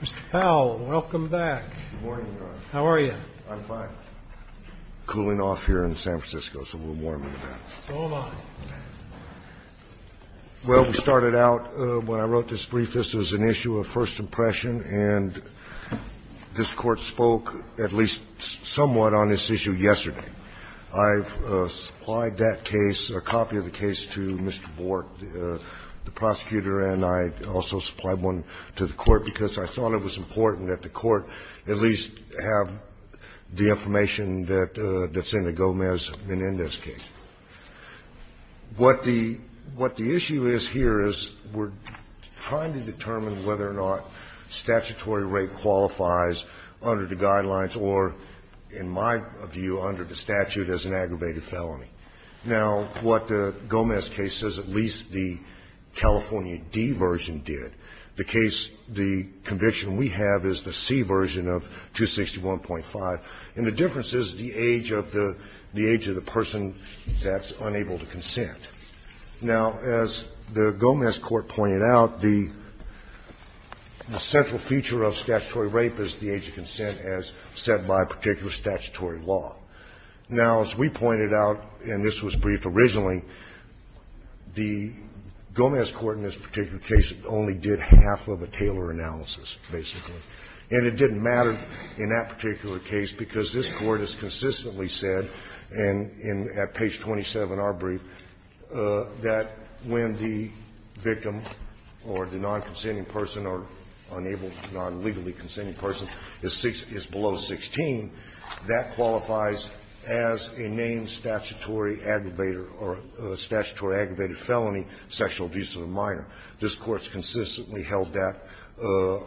Mr. Powell, welcome back. Good morning, Your Honor. How are you? I'm fine. Cooling off here in San Francisco, so we're warming up. Oh, my. Well, we started out, when I wrote this brief, this was an issue of first impression, and this Court spoke at least somewhat on this issue yesterday. I've supplied that case, a copy of the case, to Mr. Bort, the prosecutor, and I also supplied one to the Court, because I thought it was important that the Court at least have the information that Senator Gomez had in this case. What the issue is here is we're trying to determine whether or not statutory rape qualifies under the guidelines or, in my view, under the statute as an aggravated felony. Now, what the Gomez case says, at least the California D version did. The case, the conviction we have is the C version of 261.5, and the difference is the age of the — the age of the person that's unable to consent. Now, as the Gomez court pointed out, the central feature of statutory rape is the age of consent as set by a particular statutory law. Now, as we pointed out, and this was briefed originally, the Gomez court in this particular case only did half of a Taylor analysis, basically. And it didn't matter in that particular case, because this Court has consistently said, and at page 27, our brief, that when the victim or the non-consenting person or unable to non-legally consenting person is below 16, that qualifies as a named statutory aggravator or statutory aggravated felony, sexual abuse of a minor. This Court's consistently held that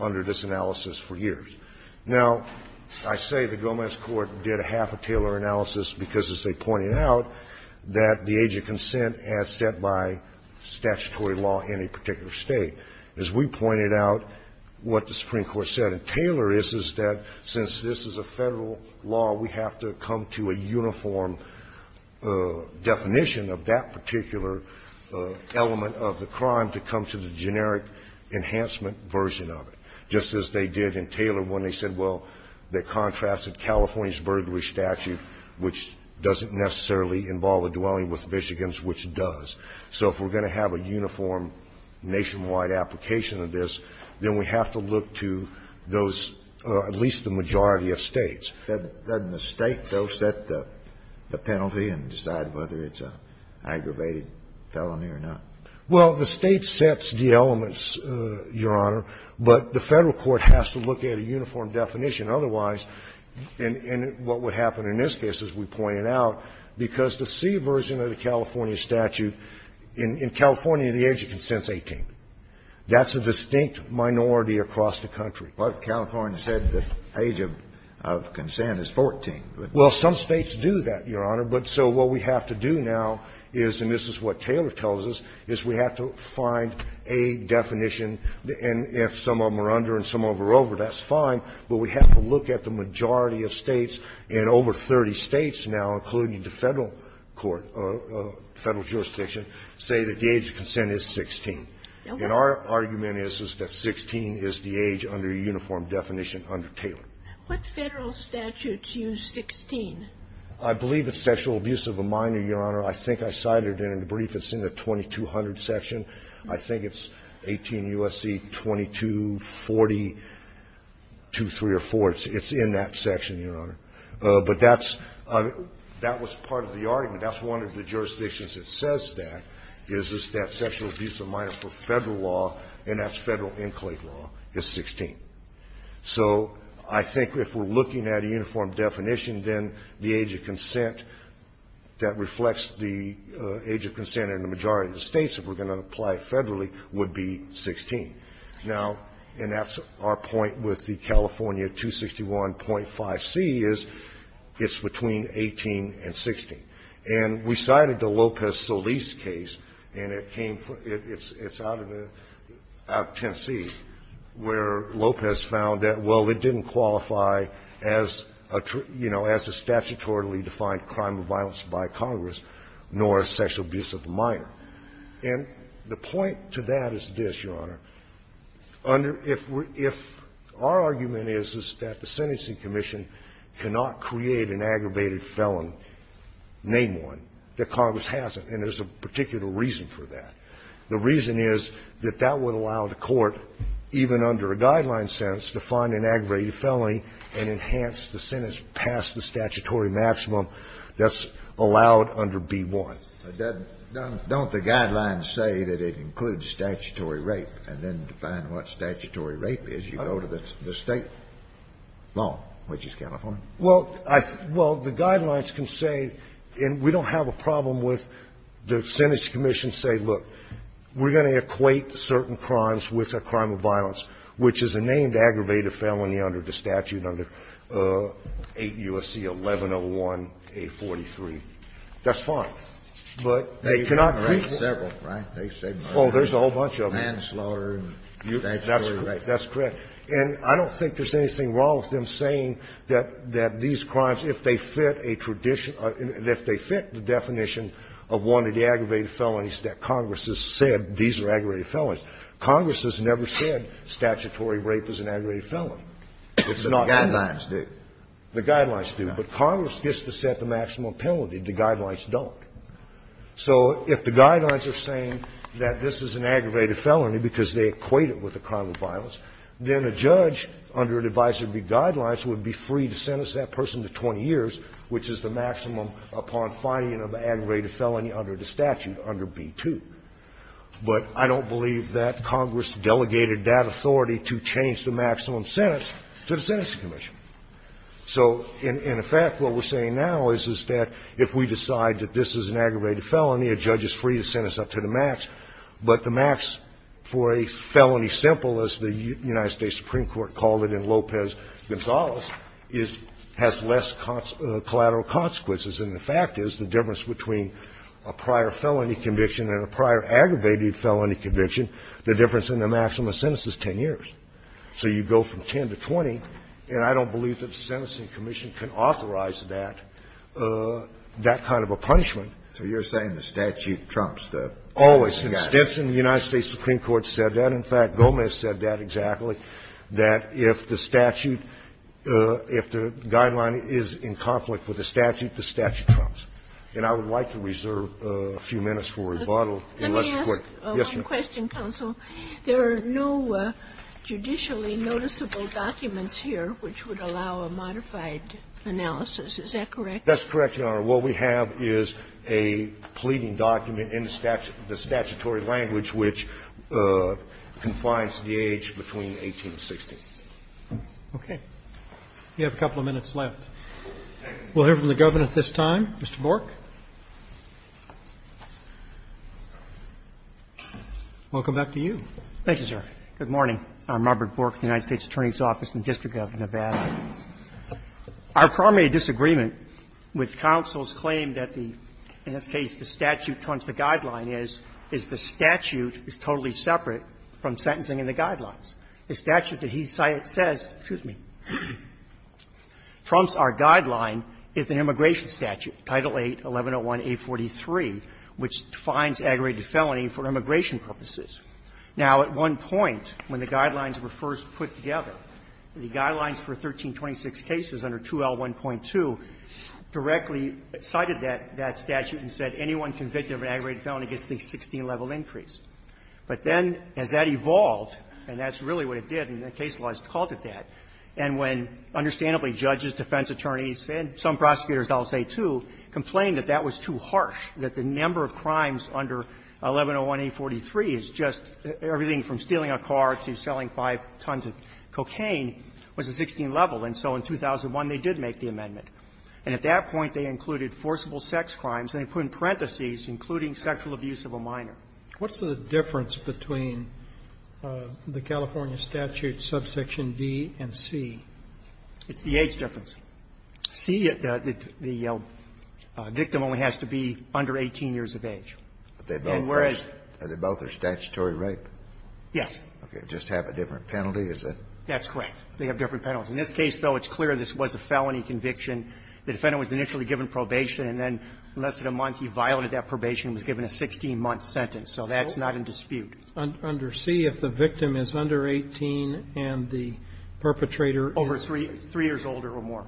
under this analysis for years. Now, I say the Gomez court did a half a Taylor analysis because, as they pointed out, that the age of consent as set by statutory law in a particular State. As we pointed out, what the Supreme Court said in Taylor is, is that since this is a Federal law, we have to come to a uniform definition of that particular element of the crime to come to the generic enhancement version of it, just as they did in Taylor when they said, well, they contrasted California's burglary statute, which doesn't necessarily involve a dwelling with Michigan's, which does. So if we're going to have a uniform nationwide application of this, then we have to look to those, at least the majority of States. Kennedy, doesn't the State, though, set the penalty and decide whether it's an aggravated felony or not? Well, the State sets the elements, Your Honor, but the Federal court has to look at a uniform definition. Otherwise, and what would happen in this case, as we pointed out, because the C version of the California statute, in California, the age of consent is 18. That's a distinct minority across the country. But California said the age of consent is 14. Well, some States do that, Your Honor. But so what we have to do now is, and this is what Taylor tells us, is we have to find a definition, and if some of them are under and some of them are over, that's fine, but we have to look at the majority of States and over 30 States now, including the Federal court, Federal jurisdiction, say that the age of consent is 16. And our argument is, is that 16 is the age under uniform definition under Taylor. What Federal statutes use 16? I believe it's sexual abuse of a minor, Your Honor. I think I cited it in a brief. It's in the 2200 section. I think it's 18 U.S.C. 2240-2304. It's in that section, Your Honor. But that's one of the jurisdictions that says that, is that sexual abuse of a minor for Federal law, and that's Federal inclined law, is 16. So I think if we're looking at a uniform definition, then the age of consent that reflects the age of consent in the majority of the States, if we're going to apply it Federally, would be 16. Now, and that's our point with the California 261.5c is it's between 18 and 16. And we cited the Lopez-Solis case, and it came from the – it's out of the – out of Tennessee, where Lopez found that, well, it didn't qualify as a, you know, as a statutorily defined crime of violence by Congress, nor as sexual abuse of a minor. And the point to that is this, Your Honor. Under – if we're – if our argument is, is that the sentencing commission cannot create an aggravated felony, name one, that Congress hasn't, and there's a particular reason for that. The reason is that that would allow the Court, even under a guideline sentence, to find an aggravated felony and enhance the sentence past the statutory maximum that's allowed under B-1. Scalia. Don't the guidelines say that it includes statutory rape, and then to find what statutory rape is, you go to the State law, which is California? Well, I – well, the guidelines can say, and we don't have a problem with the sentence commission say, look, we're going to equate certain crimes with a crime of violence, which is a named aggravated felony under the statute under 8 U.S.C. 1101A43. That's fine. But they cannot create one. They equate several, right? They say, well, there's a whole bunch of them. Manslaughter and statutory rape. That's correct. And I don't think there's anything wrong with them saying that these crimes, if they fit a tradition – if they fit the definition of one of the aggravated felonies that Congress has said, these are aggravated felonies, Congress has never said statutory rape is an aggravated felony. It's not. The guidelines do. The guidelines do. But Congress gets to set the maximum penalty. The guidelines don't. So if the guidelines are saying that this is an aggravated felony because they equate it with a crime of violence, then a judge under an advisory B guidelines would be free to sentence that person to 20 years, which is the maximum upon finding an aggravated felony under the statute under B-2. But I don't believe that Congress delegated that authority to change the maximum sentence to the sentencing commission. So in effect, what we're saying now is, is that if we decide that this is an aggravated felony, a judge is free to sentence up to the max, but the max for a felony simple, as the United States Supreme Court called it in Lopez-Gonzalez, is – has less collateral consequences. And the fact is, the difference between a prior felony conviction and a prior aggravated felony conviction, the difference in the maximum sentence is 10 years. So you go from 10 to 20, and I don't believe that the sentencing commission can authorize that, that kind of a punishment. So you're saying the statute trumps the statute. Always. In Stinson, the United States Supreme Court said that. In fact, Gomez said that exactly, that if the statute, if the guideline is in conflict with the statute, the statute trumps. And I would like to reserve a few minutes for rebuttal. And let's be quick. Yes, ma'am. The question, counsel, there are no judicially noticeable documents here which would allow a modified analysis, is that correct? That's correct, Your Honor. What we have is a pleading document in the statutory language which confines the age between 18 and 16. Okay. We have a couple of minutes left. We'll hear from the governor at this time, Mr. Bork. Welcome back to you. Thank you, sir. Good morning. I'm Robert Bork, United States Attorney's Office in the District of Nevada. Our primary disagreement with counsel's claim that the statute trumps the guideline is, is the statute is totally separate from sentencing and the guidelines. The statute that he says, excuse me, trumps our guideline is the immigration statute, Title VIII, 1101A43, which defines aggravated felony for immigration purposes. Now, at one point, when the guidelines were first put together, the guidelines for 1326 cases under 2L1.2 directly cited that statute and said anyone convicted of an aggravated felony gets the 16-level increase. But then as that evolved, and that's really what it did, and the case laws called it that, and when, understandably, judges, defense attorneys, and some prosecutors I'll say, too, complained that that was too harsh, that the number of crimes under 1101A43 is just everything from stealing a car to selling five tons of cocaine was a 16-level. And so in 2001, they did make the amendment. And at that point, they included forcible sex crimes, and they put in parentheses including sexual abuse of a minor. What's the difference between the California statute subsection D and C? It's the age difference. C, the victim only has to be under 18 years of age. And whereas they both are statutory rape. Yes. Okay. Just have a different penalty, is it? That's correct. They have different penalties. In this case, though, it's clear this was a felony conviction. The defendant was initially given probation, and then in less than a month, he violated that probation and was given a 16-month sentence. So that's not in dispute. Under C, if the victim is under 18 and the perpetrator is over 3 years older or more.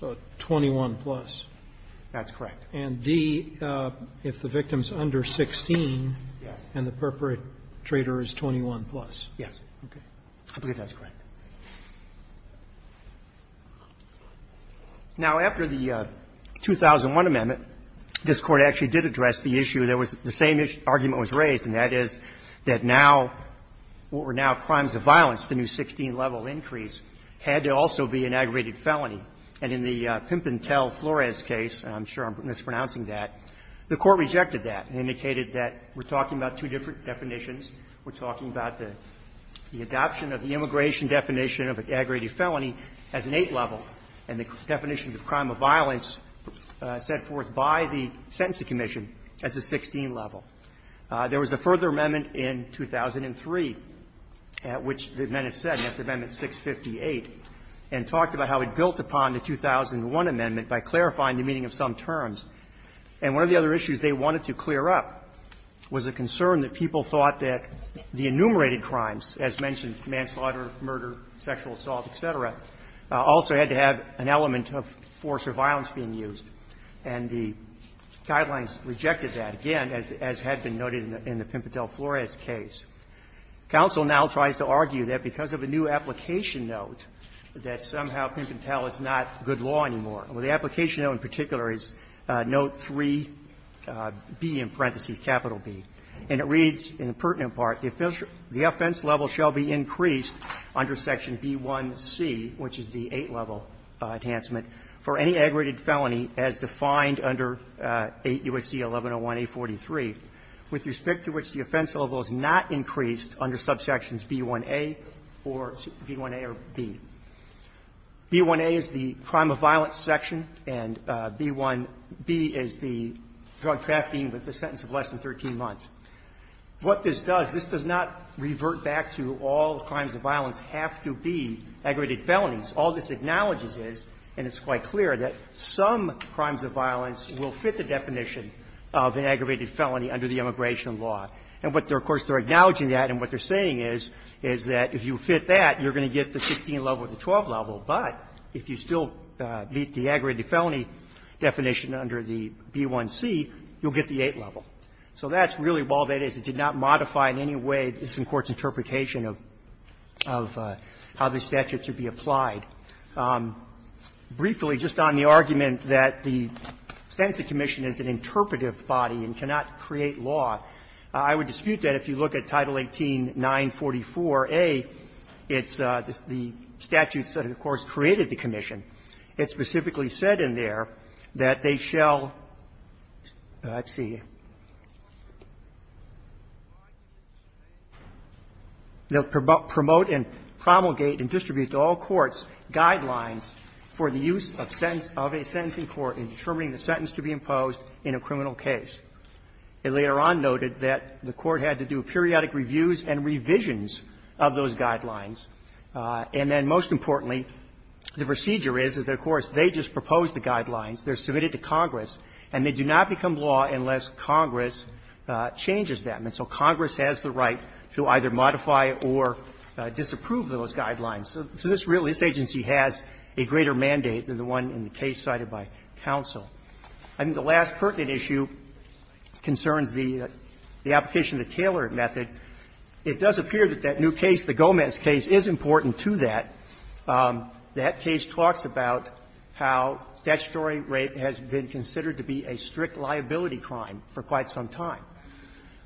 So 21-plus. That's correct. And D, if the victim is under 16 and the perpetrator is 21-plus. Yes. Okay. I believe that's correct. Now, after the 2001 amendment, this Court actually did address the issue that was the same argument was raised, and that is that now what were now crimes of violence, as opposed to the new 16-level increase, had to also be an aggravated felony. And in the Pimpin Tell Flores case, and I'm sure I'm mispronouncing that, the Court rejected that and indicated that we're talking about two different definitions. We're talking about the adoption of the immigration definition of an aggravated felony as an 8-level and the definitions of crime of violence set forth by the Sentencing Commission as a 16-level. There was a further amendment in 2003, which the amendment said, and that's Amendment 658, and talked about how it built upon the 2001 amendment by clarifying the meaning of some terms. And one of the other issues they wanted to clear up was a concern that people thought that the enumerated crimes, as mentioned, manslaughter, murder, sexual assault, et cetera, also had to have an element of force or violence being used. And the guidelines rejected that, again, as had been noted in the Pimpin Tell Flores case. Counsel now tries to argue that because of a new application note, that somehow Pimpin Tell is not good law anymore. The application note in particular is note 3B in parentheses, capital B. And it reads in the pertinent part, the offense level shall be increased under section B1c, which is the 8-level enhancement, for any aggravated felony as defined under 8 U.S.C. 1101A43, with respect to which the offense level is not increased under subsections B1a or B1a or B. B1a is the crime of violence section, and B1b is the drug trafficking with a sentence of less than 13 months. What this does, this does not revert back to all crimes of violence have to be aggravated felonies. All this acknowledges is, and it's quite clear, that some crimes of violence will fit the definition of an aggravated felony under the immigration law. And what they're, of course, they're acknowledging that, and what they're saying is, is that if you fit that, you're going to get the 16-level or the 12-level, but if you still meet the aggravated felony definition under the B1c, you'll get the 8-level. So that's really all that is. It did not modify in any way this Court's interpretation of how the statutes would be applied. Briefly, just on the argument that the Fencing Commission is an interpretive body and cannot create law, I would dispute that if you look at Title 18-944a, it's the statutes that, of course, created the commission. It specifically said in there that they shall see. They'll promote and promulgate and distribute to all courts guidelines for the use of a sentencing court in determining the sentence to be imposed in a criminal case. It later on noted that the Court had to do periodic reviews and revisions of those guidelines. And then, most importantly, the procedure is, is that, of course, they just propose the guidelines. They're submitted to Congress, and they do not become law unless Congress changes them. And so Congress has the right to either modify or disapprove those guidelines. So this agency has a greater mandate than the one in the case cited by counsel. And the last pertinent issue concerns the application of the Taylor method. It does appear that that new case, the Gomez case, is important to that. That case talks about how statutory rape has been considered to be a strict liability crime for quite some time.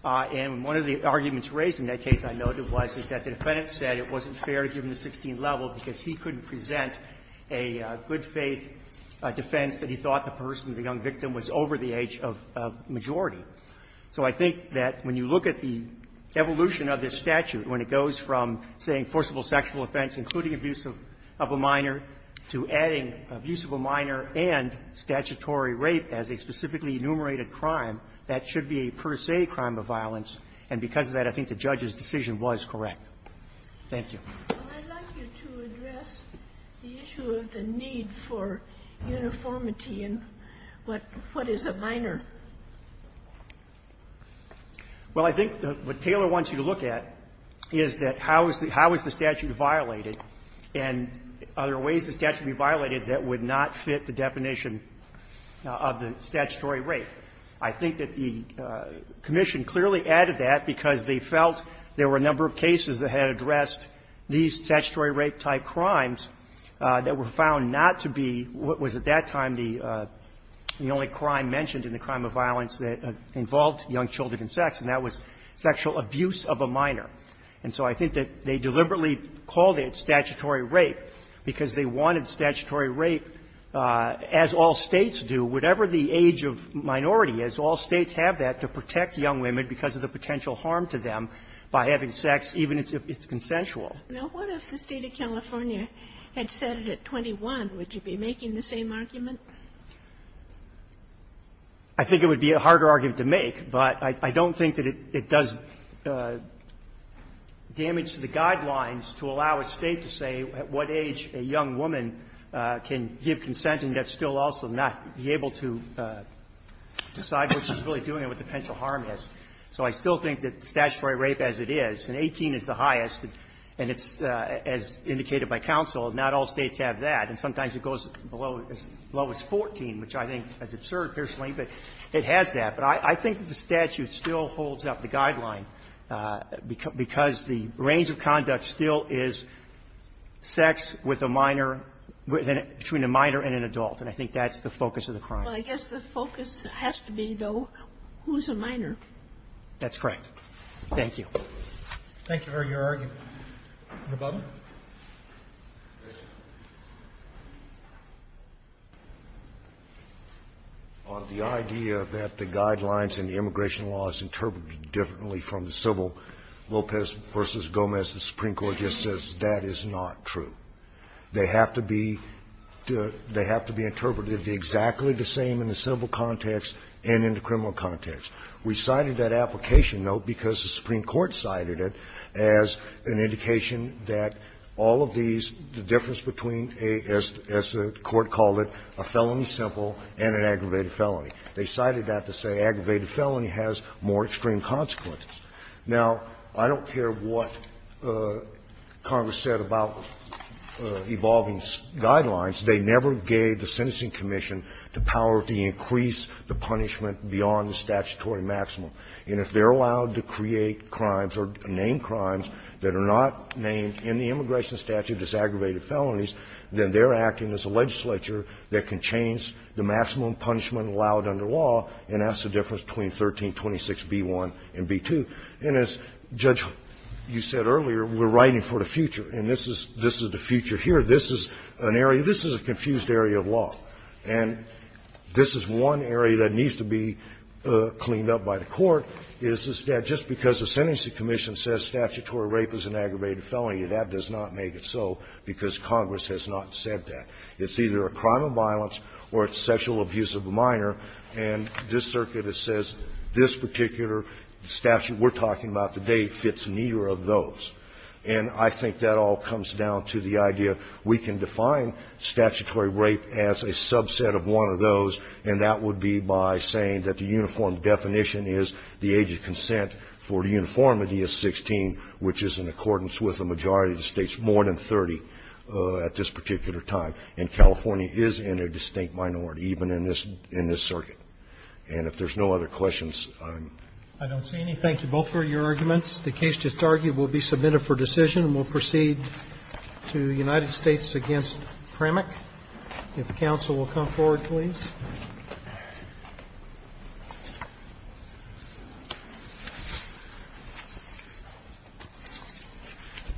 And one of the arguments raised in that case, I noted, was that the defendant said it wasn't fair to give him the 16th level because he couldn't present a good-faith defense that he thought the person, the young victim, was over the age of majority. So I think that when you look at the evolution of this statute, when it goes from, say, enforceable sexual offense, including abuse of a minor, to adding abuse of a minor and statutory rape as a specifically enumerated crime, that should be a per se crime of violence. And because of that, I think the judge's decision was correct. Thank you. Sotomayor, I'd like you to address the issue of the need for uniformity in what is a minor. Well, I think what Taylor wants you to look at is that how is the statute violated and are there ways the statute would be violated that would not fit the definition of the statutory rape. I think that the commission clearly added that because they felt there were a number of cases that had addressed these statutory rape-type crimes that were found not to be what was at that time the only crime mentioned in the crime of violence that involved young children and sex, and that was sexual abuse of a minor. And so I think that they deliberately called it statutory rape because they wanted statutory rape, as all States do, whatever the age of minority is, all States have that to protect young women because of the potential harm to them by having sex, even if it's consensual. Now, what if the State of California had said it at 21? Would you be making the same argument? I think it would be a harder argument to make, but I don't think that it does damage to the guidelines to allow a State to say at what age a young woman can give consent and yet still also not be able to decide what she's really doing and what the potential harm is. And it's, as indicated by counsel, not all States have that. And sometimes it goes as low as 14, which I think is absurd, personally, but it has that. But I think the statute still holds up the guideline because the range of conduct still is sex with a minor, between a minor and an adult, and I think that's the focus of the crime. Well, I guess the focus has to be, though, who's a minor. That's correct. Thank you. Thank you for your argument. Mr. Butler. The idea that the guidelines in the immigration law is interpreted differently from the civil Lopez v. Gomez, the Supreme Court just says that is not true. They have to be the they have to be interpreted exactly the same in the civil context and in the criminal context. We cited that application, though, because the Supreme Court cited it as an indication that all of these, the difference between, as the Court called it, a felony simple and an aggravated felony. They cited that to say aggravated felony has more extreme consequences. Now, I don't care what Congress said about evolving guidelines. They never gave the sentencing commission the power to increase the punishment beyond the statutory maximum. And if they're allowed to create crimes or name crimes that are not named in the immigration statute as aggravated felonies, then they're acting as a legislature that can change the maximum punishment allowed under law, and that's the difference between 1326b1 and b2. And as, Judge, you said earlier, we're writing for the future, and this is the future here. This is an area, this is a confused area of law. And this is one area that needs to be cleaned up by the Court, is that just because the sentencing commission says statutory rape is an aggravated felony, that does not make it so because Congress has not said that. It's either a crime of violence or it's sexual abuse of a minor, and this circuit says this particular statute we're talking about today fits neither of those. And I think that all comes down to the idea we can define statutory rape as a subset of one of those, and that would be by saying that the uniform definition is the age of consent for the uniformity of 16, which is in accordance with a majority of the States, more than 30 at this particular time. And California is in a distinct minority, even in this circuit. And if there's no other questions, I'm going to close. Thank you. Thank you. We'll be submitted for decision. And we'll proceed to the United States against Pramuk, if counsel will come forward, please.